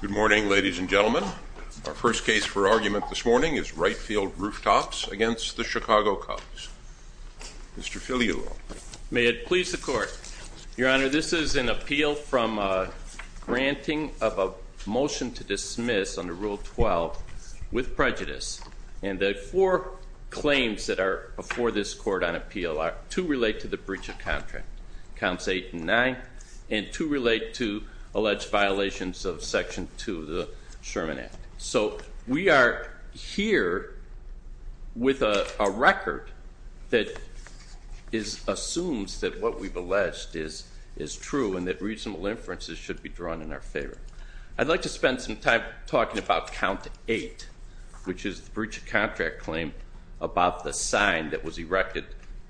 Good morning, ladies and gentlemen. Our first case for argument this morning is Wright Field Rooftops v. The Chicago Cubs. Mr. Filialo. May it please the Court. Your Honor, this is an appeal from granting of a motion to dismiss under Rule 12 with prejudice. And the four claims that are before this Court on appeal are to relate to the breach of contract, Counts 8 and 9, and to relate to alleged violations of Section 2 of the Sherman Act. So we are here with a record that assumes that what we've alleged is true and that reasonable inferences should be drawn in our favor. I'd like to spend some time talking about Count 8, which is the breach of contract claim about the sign that was erected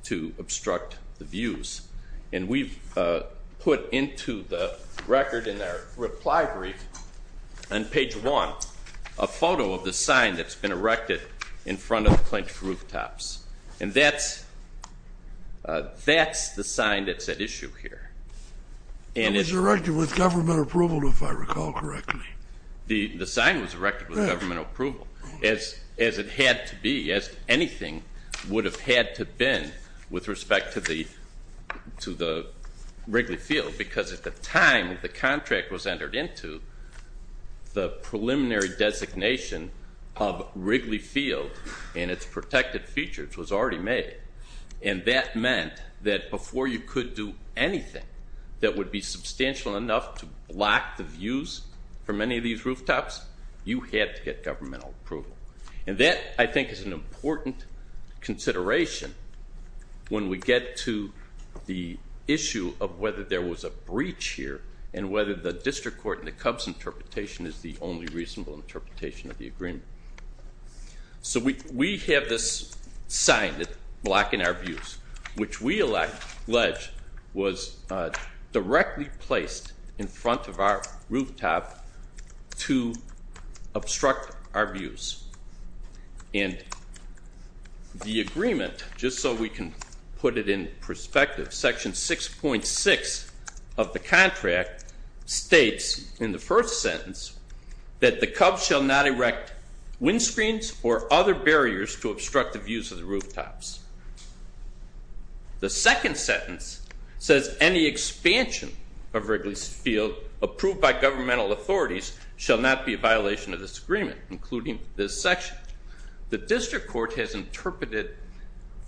to obstruct the views. And we've put into the record in our reply brief, on page 1, a photo of the sign that's been erected in front of the clinched rooftops. And that's the sign that's at issue here. It was erected with government approval, if I recall correctly. The sign was erected with governmental approval, as it had to be, as anything would have had to have been with respect to the Wrigley Field. Because at the time the contract was entered into, the preliminary designation of Wrigley Field and its protected features was already made. And that meant that before you could do anything that would be substantial enough to block the views from any of these rooftops, you had to get governmental approval. And that, I think, is an important consideration when we get to the issue of whether there was a breach here and whether the district court and the Cubs' interpretation is the only reasonable interpretation of the agreement. So we have this sign that's blocking our views, which we allege was directly placed in front of our rooftop to obstruct our views. And the agreement, just so we can put it in perspective, section 6.6 of the contract states in the first sentence that the Cubs shall not erect windscreens or other barriers to obstruct the views of the rooftops. The second sentence says any expansion of Wrigley Field approved by governmental authorities shall not be a violation of this agreement, including this section. The district court has interpreted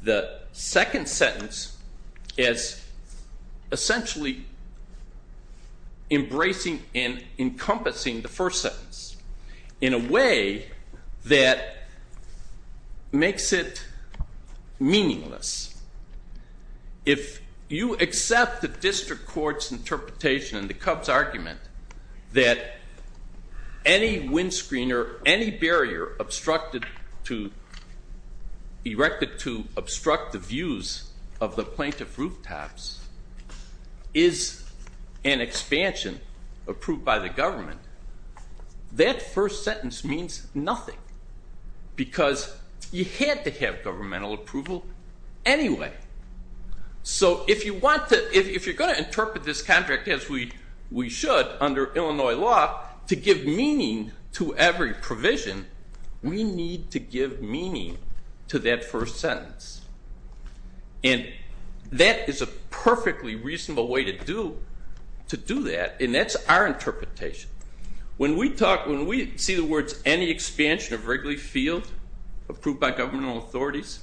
the second sentence as essentially embracing and encompassing the first sentence in a way that makes it meaningless. If you accept the district court's interpretation and the Cubs' argument that any windscreen or any barrier obstructed to obstruct the views of the plaintiff rooftops is an expansion approved by the government, that first sentence means nothing because you had to have governmental approval anyway. So if you're going to interpret this contract as we should under Illinois law to give meaning to every provision, we need to give meaning to that first sentence. And that is a perfectly reasonable way to do that, and that's our interpretation. When we see the words any expansion of Wrigley Field approved by governmental authorities,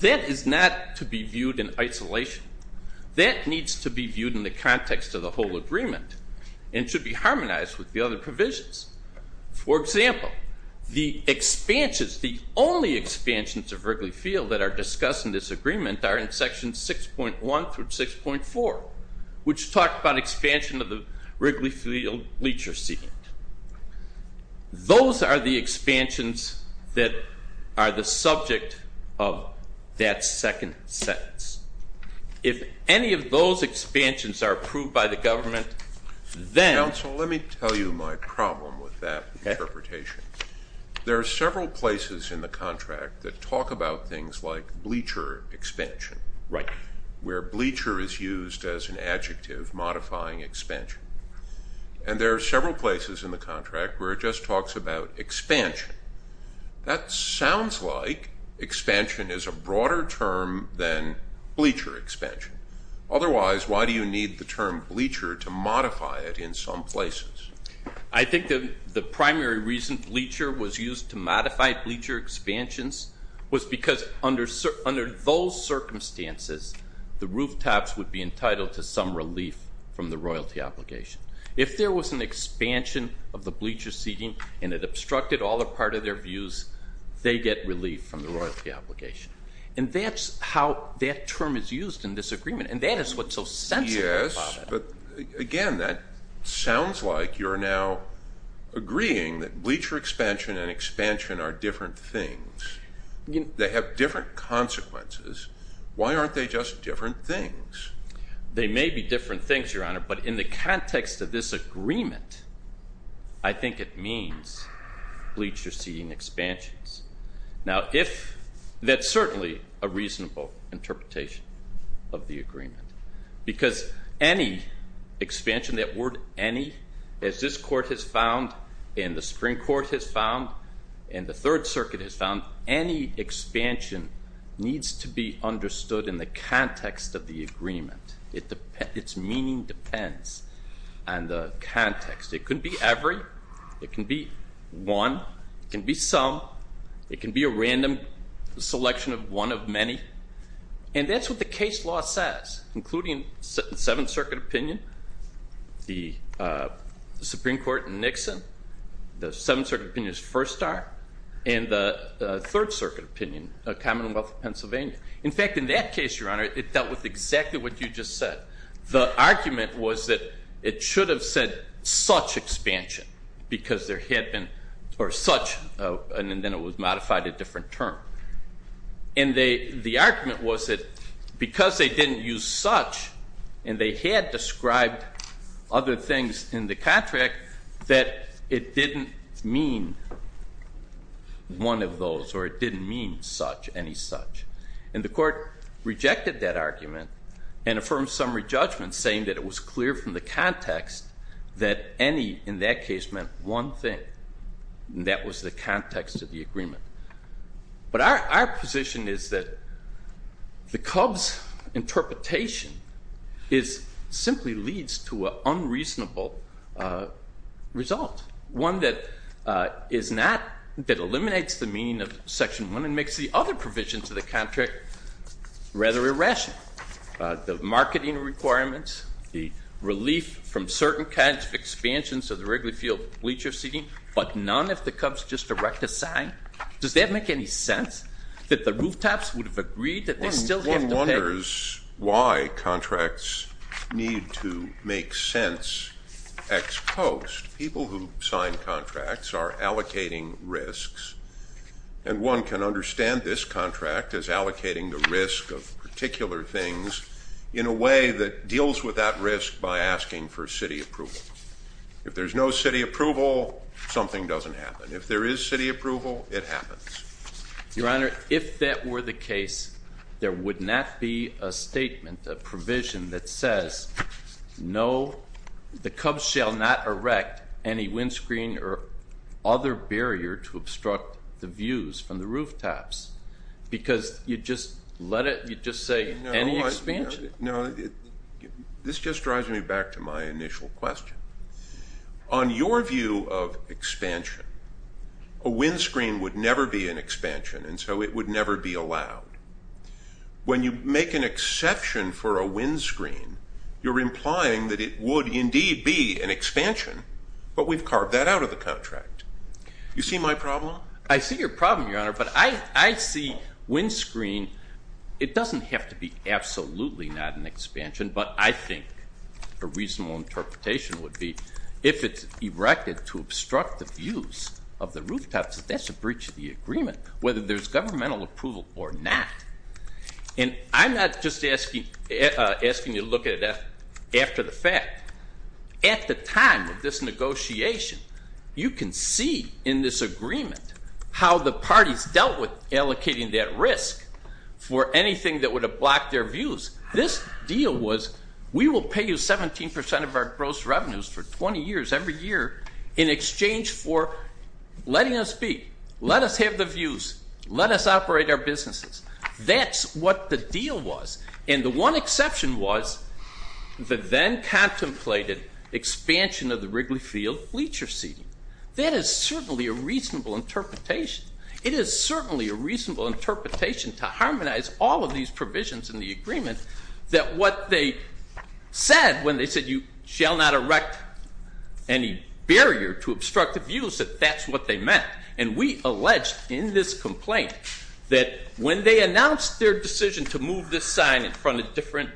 that is not to be viewed in isolation. That needs to be viewed in the context of the whole agreement and should be harmonized with the other provisions. For example, the expansions, the only expansions of Wrigley Field that are discussed in this agreement are in sections 6.1 through 6.4, which talk about expansion of the Wrigley Field leacher seat. Those are the expansions that are the subject of that second sentence. If any of those expansions are approved by the government, then... Counsel, let me tell you my problem with that interpretation. There are several places in the contract that talk about things like bleacher expansion, where bleacher is used as an adjective modifying expansion. And there are several places in the contract where it just talks about expansion. That sounds like expansion is a broader term than bleacher expansion. Otherwise, why do you need the term bleacher to modify it in some places? I think the primary reason bleacher was used to modify bleacher expansions was because under those circumstances, the rooftops would be entitled to some relief from the royalty obligation. If there was an expansion of the bleacher seating and it obstructed all or part of their views, they get relief from the royalty obligation. And that's how that term is used in this agreement, and that is what's so sensible about it. Yes, but, again, that sounds like you're now agreeing that bleacher expansion and expansion are different things. They have different consequences. Why aren't they just different things? They may be different things, Your Honor, but in the context of this agreement, I think it means bleacher seating expansions. Now, that's certainly a reasonable interpretation of the agreement because any expansion, that word any, as this Court has found and the Supreme Court has found and the Third Circuit has found, any expansion needs to be understood in the context of the agreement. Its meaning depends on the context. It could be every. It can be one. It can be some. It can be a random selection of one of many. And that's what the case law says, including the Seventh Circuit opinion, the Supreme Court and Nixon, the Seventh Circuit opinion's first star, and the Third Circuit opinion, Commonwealth of Pennsylvania. In fact, in that case, Your Honor, it dealt with exactly what you just said. The argument was that it should have said such expansion because there had been or such, and then it was modified a different term. And the argument was that because they didn't use such and they had described other things in the contract that it didn't mean one of those or it didn't mean such, any such. And the Court rejected that argument and affirmed summary judgment saying that it was clear from the context that any in that case meant one thing, and that was the context of the agreement. But our position is that the Cubs' interpretation simply leads to an unreasonable result, one that eliminates the meaning of Section 1 and makes the other provisions of the contract rather irrational. The marketing requirements, the relief from certain kinds of expansions of the Wrigley Field bleacher seating, but none if the Cubs just erect a sign. Does that make any sense that the rooftops would have agreed that they still have to pay? There's why contracts need to make sense ex post. People who sign contracts are allocating risks, and one can understand this contract as allocating the risk of particular things in a way that deals with that risk by asking for city approval. If there's no city approval, something doesn't happen. If there is city approval, it happens. Your Honor, if that were the case, there would not be a statement, a provision that says, no, the Cubs shall not erect any windscreen or other barrier to obstruct the views from the rooftops because you just let it, you just say any expansion. No, this just drives me back to my initial question. On your view of expansion, a windscreen would never be an expansion, and so it would never be allowed. When you make an exception for a windscreen, you're implying that it would indeed be an expansion, but we've carved that out of the contract. You see my problem? I see your problem, Your Honor, but I see windscreen, it doesn't have to be absolutely not an expansion, but I think a reasonable interpretation would be if it's erected to obstruct the views of the rooftops, that's a breach of the agreement, whether there's governmental approval or not. And I'm not just asking you to look at it after the fact. At the time of this negotiation, you can see in this agreement how the parties dealt with allocating that risk for anything that would have blocked their views. This deal was we will pay you 17% of our gross revenues for 20 years, every year, in exchange for letting us be. Let us have the views. Let us operate our businesses. That's what the deal was, and the one exception was the then contemplated expansion of the Wrigley Field bleacher seating. That is certainly a reasonable interpretation. It is certainly a reasonable interpretation to harmonize all of these provisions in the agreement that what they said when they said you shall not erect any barrier to obstruct the views, that that's what they meant. And we alleged in this complaint that when they announced their decision to move this sign in front of different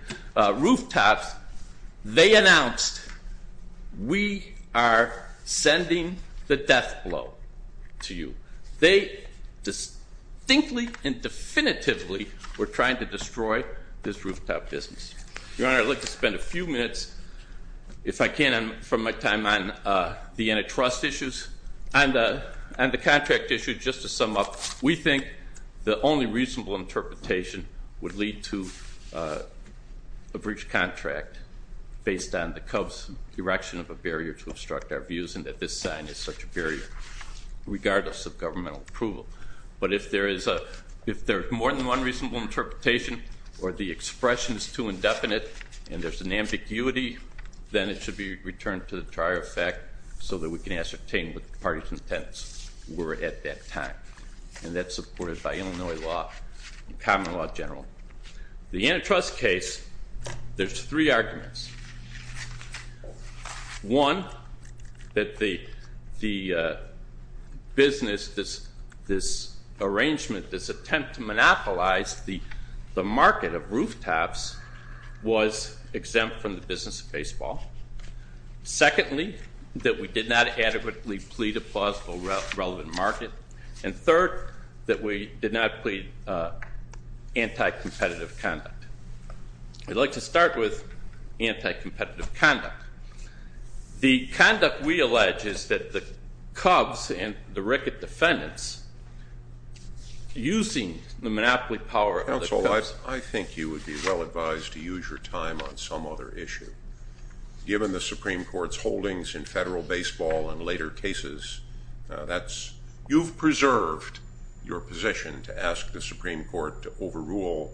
rooftops, they announced we are sending the death blow to you. They distinctly and definitively were trying to destroy this rooftop business. Your Honor, I'd like to spend a few minutes, if I can, from my time on the antitrust issues. On the contract issue, just to sum up, we think the only reasonable interpretation would lead to a breach of contract based on the Cubs' erection of a barrier to obstruct our views and that this sign is such a barrier regardless of governmental approval. But if there is more than one reasonable interpretation or the expression is too indefinite and there's an ambiguity, then it should be returned to the trier of fact so that we can ascertain what the parties' intents were at that time. And that's supported by Illinois law and common law in general. The antitrust case, there's three arguments. One, that the business, this arrangement, this attempt to monopolize the market of rooftops was exempt from the business of baseball. Secondly, that we did not adequately plead a plausible relevant market. And third, that we did not plead anti-competitive conduct. I'd like to start with anti-competitive conduct. The conduct we allege is that the Cubs and the ricket defendants, using the monopoly power of the Cubs. Counsel, I think you would be well advised to use your time on some other issue. Given the Supreme Court's holdings in federal baseball and later cases, you've preserved your position to ask the Supreme Court to overrule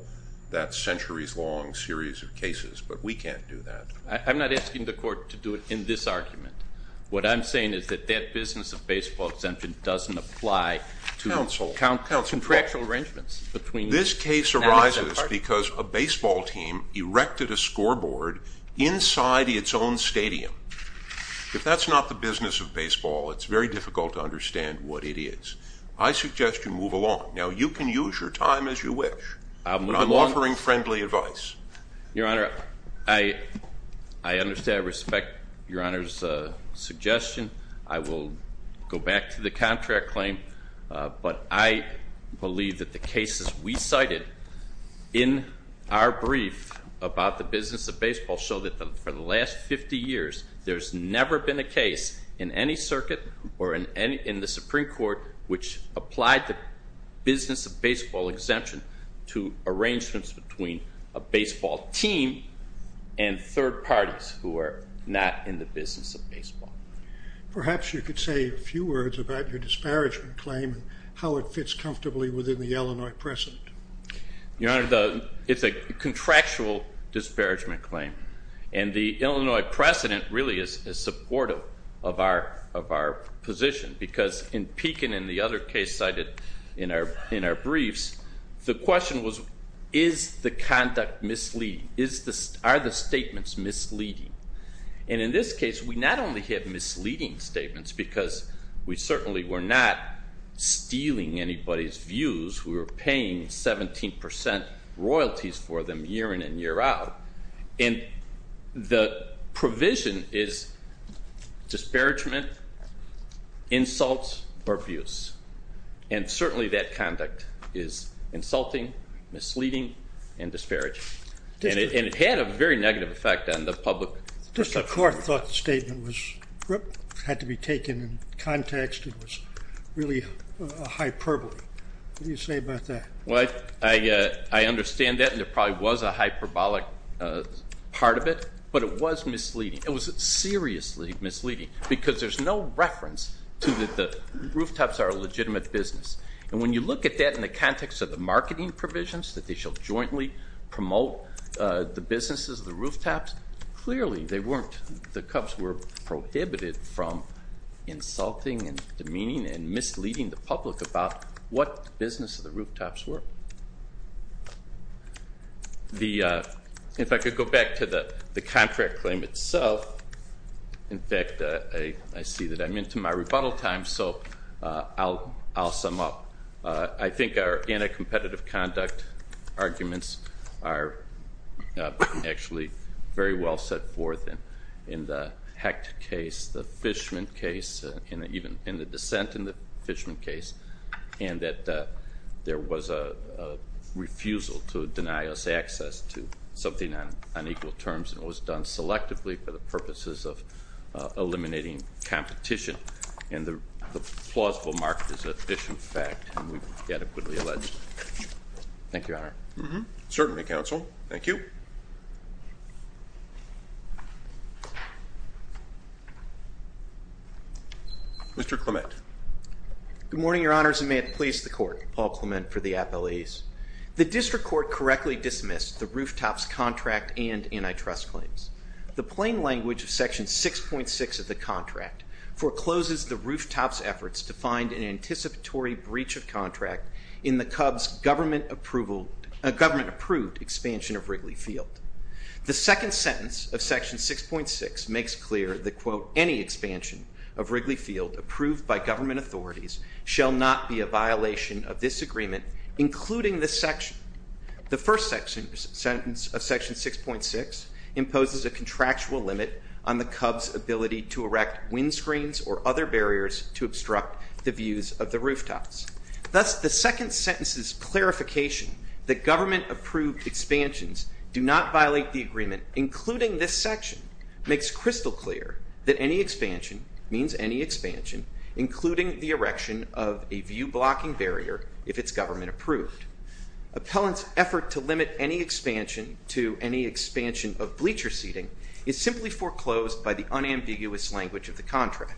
that centuries-long series of cases. But we can't do that. I'm not asking the court to do it in this argument. What I'm saying is that that business of baseball exemption doesn't apply to contractual arrangements. This case arises because a baseball team erected a scoreboard inside its own stadium. If that's not the business of baseball, it's very difficult to understand what it is. I suggest you move along. Now, you can use your time as you wish, but I'm offering friendly advice. Your Honor, I understand and respect your Honor's suggestion. I will go back to the contract claim. But I believe that the cases we cited in our brief about the business of baseball show that for the last 50 years there's never been a case in any circuit or in the Supreme Court which applied the business of baseball exemption to arrangements between a baseball team and third parties who are not in the business of baseball. Perhaps you could say a few words about your disparagement claim and how it fits comfortably within the Illinois precedent. Your Honor, it's a contractual disparagement claim. The Illinois precedent really is supportive of our position because in Pekin and the other case cited in our briefs, the question was is the conduct misleading? Are the statements misleading? In this case, we not only have misleading statements because we certainly were not stealing anybody's views. We were paying 17% royalties for them year in and year out. And the provision is disparagement, insults, or abuse. And certainly that conduct is insulting, misleading, and disparaging. And it had a very negative effect on the public. Just the court thought the statement had to be taken in context. It was really a hyperbole. What do you say about that? Well, I understand that, and there probably was a hyperbolic part of it, but it was misleading. It was seriously misleading because there's no reference to that the rooftops are a legitimate business. And when you look at that in the context of the marketing provisions that they shall jointly promote the businesses of the rooftops, clearly they weren't. The Cubs were prohibited from insulting and demeaning and misleading the public about what the business of the rooftops were. If I could go back to the contract claim itself. In fact, I see that I'm into my rebuttal time, so I'll sum up. I think our anti-competitive conduct arguments are actually very well set forth in the Hecht case, the Fishman case, and even in the dissent in the Fishman case, and that there was a refusal to deny us access to something on equal terms, and it was done selectively for the purposes of eliminating competition. And the plausible mark is an efficient fact, and we've adequately alleged it. Thank you, Your Honor. Certainly, counsel. Thank you. Mr. Clement. Good morning, Your Honors, and may it please the Court. Paul Clement for the appellees. The district court correctly dismissed the rooftops contract and antitrust claims. The plain language of Section 6.6 of the contract forecloses the rooftops efforts to find an anticipatory breach of contract in the Cubs' government-approved expansion of Wrigley Field. The second sentence of Section 6.6 makes clear that, quote, any expansion of Wrigley Field approved by government authorities shall not be a violation of this agreement, including the first sentence of Section 6.6 imposes a contractual limit on the Cubs' ability to erect windscreens or other barriers to obstruct the views of the rooftops. Thus, the second sentence's clarification that government-approved expansions do not violate the agreement, including this section, makes crystal clear that any expansion means any expansion, including the erection of a view-blocking barrier if it's government-approved. Appellant's effort to limit any expansion to any expansion of bleacher seating is simply foreclosed by the unambiguous language of the contract.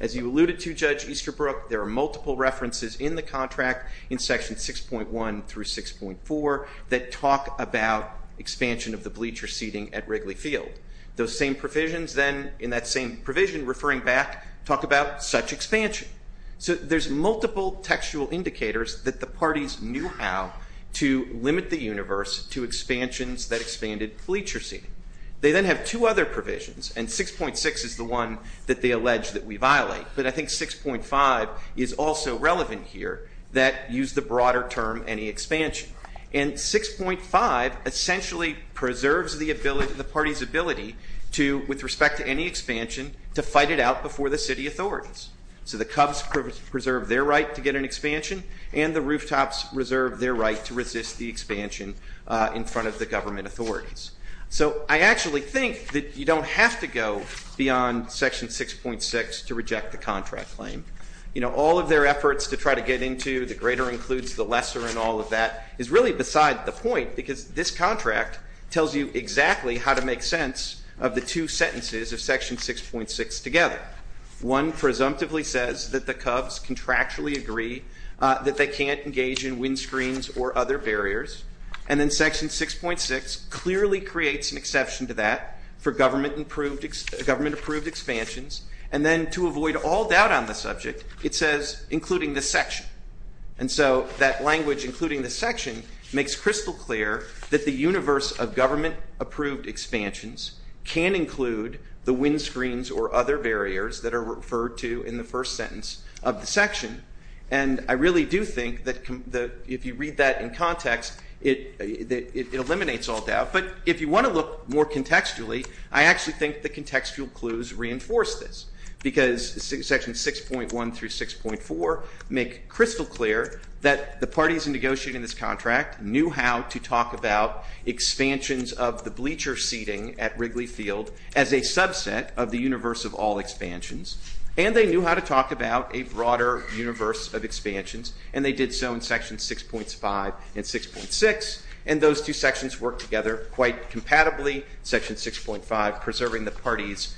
As you alluded to, Judge Easterbrook, there are multiple references in the contract in Sections 6.1 through 6.4 that talk about expansion of the bleacher seating at Wrigley Field. Those same provisions then, in that same provision referring back, talk about such expansion. So there's multiple textual indicators that the parties knew how to limit the universe to expansions that expanded bleacher seating. They then have two other provisions, and 6.6 is the one that they allege that we violate, but I think 6.5 is also relevant here, that use the broader term any expansion. And 6.5 essentially preserves the ability, the party's ability to, with respect to any expansion, to fight it out before the city authorities. So the Cubs preserve their right to get an expansion, and the Rooftops reserve their right to resist the expansion in front of the government authorities. So I actually think that you don't have to go beyond Section 6.6 to reject the contract claim. You know, all of their efforts to try to get into the greater includes the lesser and all of that is really beside the point because this contract tells you exactly how to make sense of the two sentences of Section 6.6 together. One presumptively says that the Cubs contractually agree that they can't engage in windscreens or other barriers, and then Section 6.6 clearly creates an exception to that for government approved expansions, and then to avoid all doubt on the subject, it says including this section. And so that language including this section makes crystal clear that the universe of government approved expansions can include the windscreens or other barriers that are referred to in the first sentence of the section. And I really do think that if you read that in context, it eliminates all doubt. But if you want to look more contextually, I actually think the contextual clues reinforce this because Section 6.1 through 6.4 make crystal clear that the parties in negotiating this contract knew how to talk about expansions of the bleacher seating at Wrigley Field as a subset of the universe of all expansions, and they knew how to talk about a broader universe of expansions, and they did so in Section 6.5 and 6.6, and those two sections work together quite compatibly. Section 6.5 preserving the parties'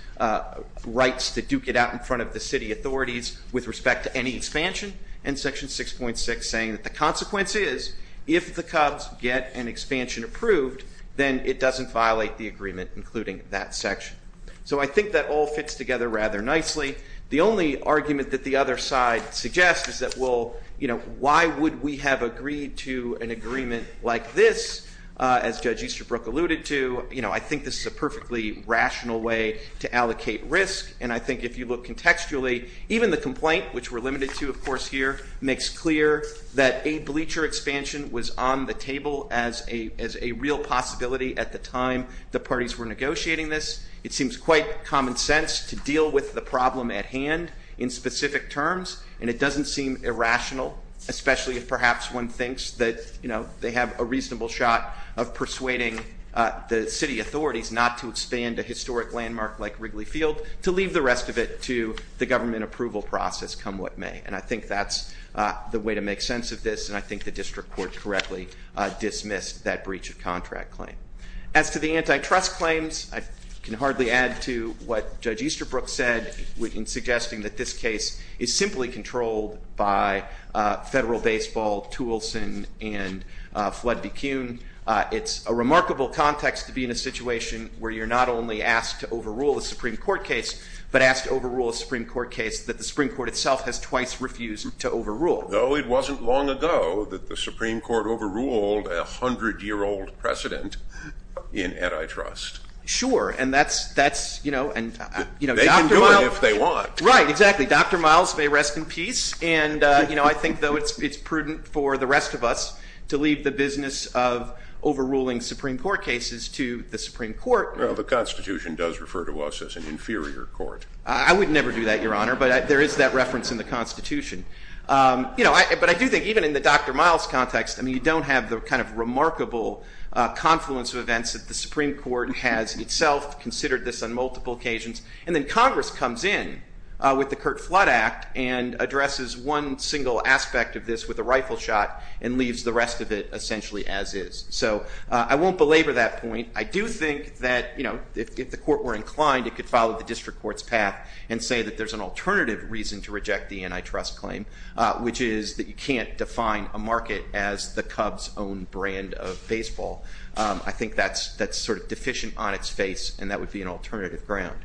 rights to duke it out in front of the city authorities with respect to any expansion, and Section 6.6 saying that the consequence is if the Cubs get an expansion approved, then it doesn't violate the agreement, including that section. So I think that all fits together rather nicely. The only argument that the other side suggests is that, well, why would we have agreed to an agreement like this? As Judge Easterbrook alluded to, I think this is a perfectly rational way to allocate risk, and I think if you look contextually, even the complaint, which we're limited to, of course, here, makes clear that a bleacher expansion was on the table as a real possibility at the time the parties were negotiating this. It seems quite common sense to deal with the problem at hand in specific terms, and it doesn't seem irrational, especially if perhaps one thinks that they have a reasonable shot of persuading the city authorities not to expand a historic landmark like Wrigley Field to leave the rest of it to the government approval process come what may, and I think that's the way to make sense of this, and I think the district court correctly dismissed that breach of contract claim. As to the antitrust claims, I can hardly add to what Judge Easterbrook said in suggesting that this case is simply controlled by federal baseball, Toulson, and Flood v. Kuhn. It's a remarkable context to be in a situation where you're not only asked to overrule a Supreme Court case, but asked to overrule a Supreme Court case that the Supreme Court itself has twice refused to overrule. No, it wasn't long ago that the Supreme Court overruled a 100-year-old precedent in antitrust. Sure, and that's, you know, Dr. Miles. They can do it if they want. Right, exactly. Dr. Miles may rest in peace, and I think, though, it's prudent for the rest of us to leave the business of overruling Supreme Court cases to the Supreme Court. Well, the Constitution does refer to us as an inferior court. I would never do that, Your Honor, but there is that reference in the Constitution. You know, but I do think, even in the Dr. Miles context, I mean, you don't have the kind of remarkable confluence of events that the Supreme Court has itself considered this on multiple occasions. And then Congress comes in with the Curt Flood Act and addresses one single aspect of this with a rifle shot and leaves the rest of it essentially as is. So I won't belabor that point. I do think that, you know, if the court were inclined, it could follow the district court's path and say that there's an alternative reason to reject the antitrust claim, which is that you can't define a market as the Cubs' own brand of baseball. I think that's sort of deficient on its face, and that would be an alternative ground.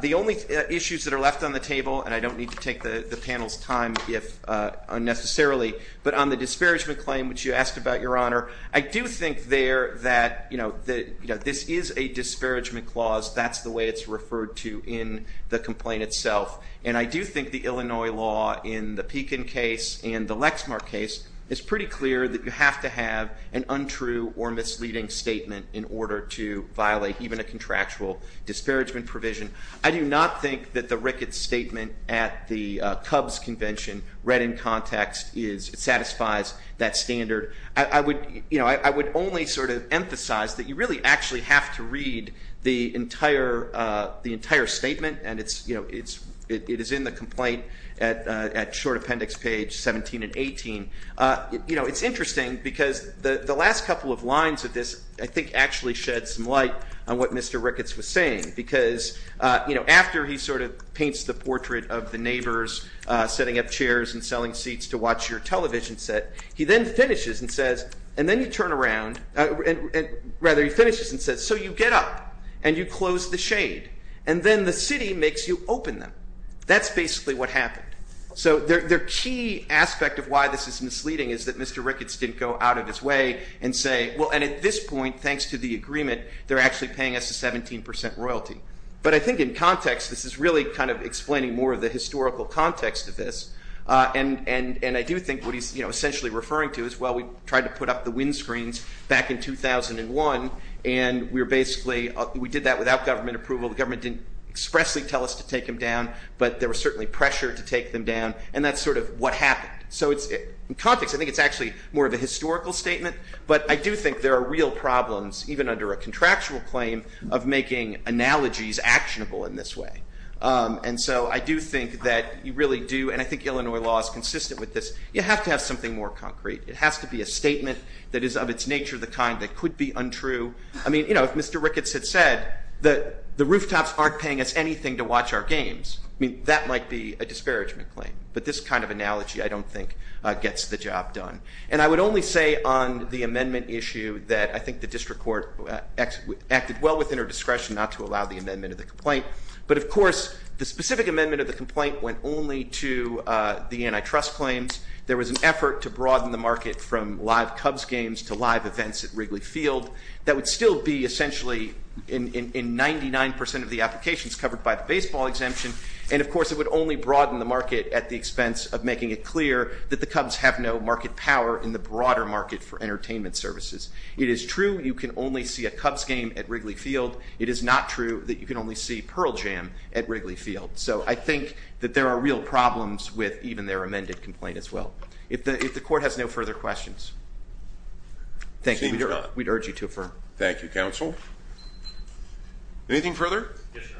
The only issues that are left on the table, and I don't need to take the panel's time unnecessarily, but on the disparagement claim, which you asked about, Your Honor, I do think there that, you know, this is a disparagement clause. That's the way it's referred to in the complaint itself. And I do think the Illinois law in the Pekin case and the Lexmark case is pretty clear that you have to have an untrue or misleading statement in order to violate even a contractual disparagement provision. I do not think that the Ricketts statement at the Cubs convention, read in context, satisfies that standard. I would only sort of emphasize that you really actually have to read the entire statement, and it is in the complaint at short appendix page 17 and 18. You know, it's interesting because the last couple of lines of this, I think, actually shed some light on what Mr. Ricketts was saying, because, you know, after he sort of paints the portrait of the neighbors setting up chairs and selling seats to watch your television set, he then finishes and says, and then you turn around, rather he finishes and says, so you get up and you close the shade, and then the city makes you open them. That's basically what happened. So the key aspect of why this is misleading is that Mr. Ricketts didn't go out of his way and say, well, and at this point, thanks to the agreement, they're actually paying us a 17 percent royalty. But I think in context, this is really kind of explaining more of the historical context of this, and I do think what he's essentially referring to is, well, we tried to put up the windscreens back in 2001, and we were basically, we did that without government approval. The government didn't expressly tell us to take them down, but there was certainly pressure to take them down, and that's sort of what happened. So in context, I think it's actually more of a historical statement, but I do think there are real problems, even under a contractual claim, of making analogies actionable in this way. And so I do think that you really do, and I think Illinois law is consistent with this, you have to have something more concrete. It has to be a statement that is of its nature the kind that could be untrue. I mean, you know, if Mr. Ricketts had said that the rooftops aren't paying us anything to watch our games, I mean, that might be a disparagement claim. But this kind of analogy I don't think gets the job done. And I would only say on the amendment issue that I think the district court acted well within her discretion not to allow the amendment of the complaint. But, of course, the specific amendment of the complaint went only to the antitrust claims. There was an effort to broaden the market from live Cubs games to live events at Wrigley Field. That would still be essentially in 99% of the applications covered by the baseball exemption. And, of course, it would only broaden the market at the expense of making it clear that the Cubs have no market power in the broader market for entertainment services. It is true you can only see a Cubs game at Wrigley Field. It is not true that you can only see Pearl Jam at Wrigley Field. So I think that there are real problems with even their amended complaint as well. If the court has no further questions, thank you. We'd urge you to affirm. Thank you, counsel. Anything further? Yes, sir.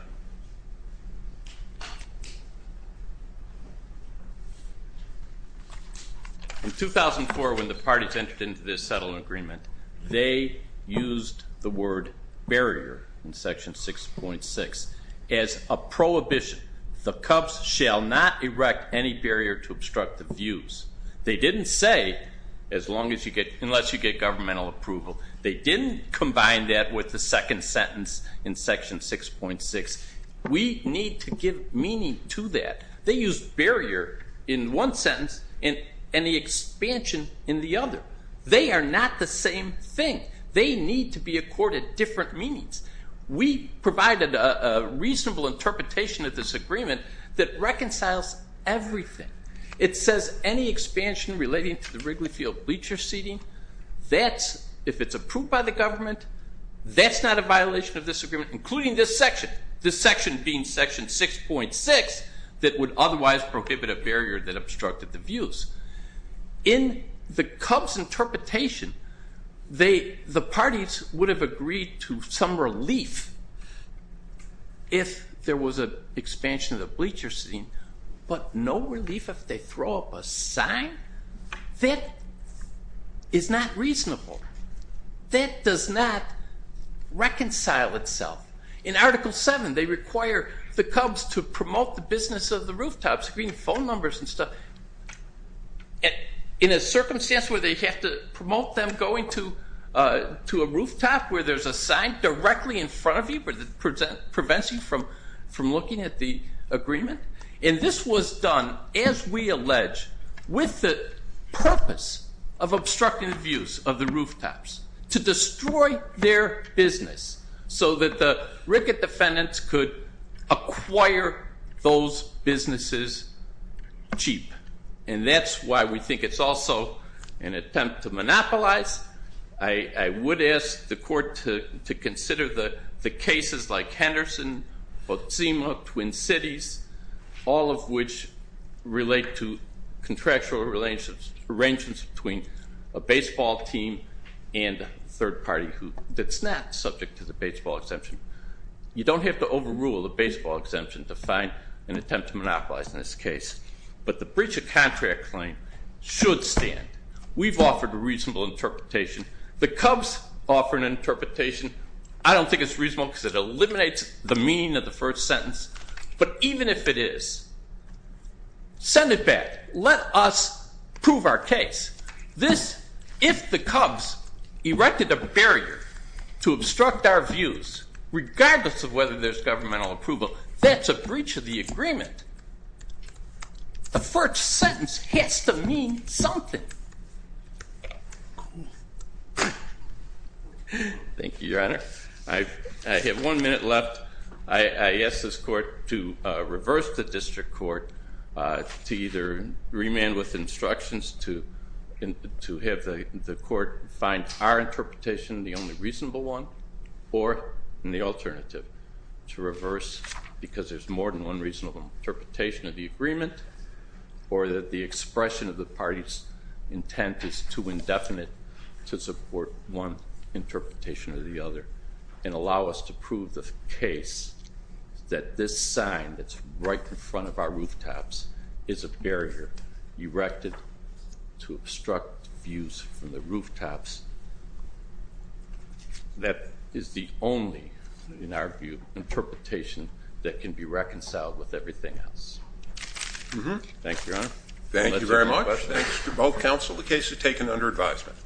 In 2004, when the parties entered into this settlement agreement, they used the word barrier in Section 6.6 as a prohibition. The Cubs shall not erect any barrier to obstruct the views. They didn't say unless you get governmental approval. They didn't combine that with the second sentence in Section 6.6. We need to give meaning to that. They used barrier in one sentence and the expansion in the other. They are not the same thing. They need to be accorded different meanings. We provided a reasonable interpretation of this agreement that reconciles everything. It says any expansion relating to the Wrigley Field bleacher seating, if it's approved by the government, that's not a violation of this agreement, including this section, this section being Section 6.6, that would otherwise prohibit a barrier that obstructed the views. In the Cubs' interpretation, the parties would have agreed to some relief if there was an expansion of the bleacher seating, but no relief if they throw up a sign? That is not reasonable. That does not reconcile itself. In Article 7, they require the Cubs to promote the business of the rooftops, phone numbers and stuff, in a circumstance where they have to promote them going to a rooftop where there's a sign directly in front of you that prevents you from looking at the agreement. And this was done, as we allege, with the purpose of obstructing the views of the rooftops, to destroy their business so that the Wrigley defendants could acquire those businesses cheap. And that's why we think it's also an attempt to monopolize. I would ask the court to consider the cases like Henderson, Botsema, Twin Cities, all of which relate to contractual arrangements between a baseball team and a third party that's not subject to the baseball exemption. You don't have to overrule the baseball exemption to find an attempt to monopolize in this case. But the breach of contract claim should stand. We've offered a reasonable interpretation. The Cubs offer an interpretation. I don't think it's reasonable because it eliminates the meaning of the first sentence. But even if it is, send it back. Let us prove our case. This, if the Cubs erected a barrier to obstruct our views, regardless of whether there's governmental approval, that's a breach of the agreement. The first sentence has to mean something. Thank you, Your Honor. I have one minute left. I ask this court to reverse the district court to either remand with instructions to have the court find our interpretation the only reasonable one, or in the alternative, to reverse because there's more than one reasonable interpretation of the agreement or that the expression of the party's intent is too indefinite to support one interpretation or the other and allow us to prove the case that this sign that's right in front of our rooftops is a barrier erected to obstruct views from the rooftops that is the only, in our view, interpretation that can be reconciled with everything else. Thank you, Your Honor. Thank you very much. Thanks to both counsel. The case is taken under advisement.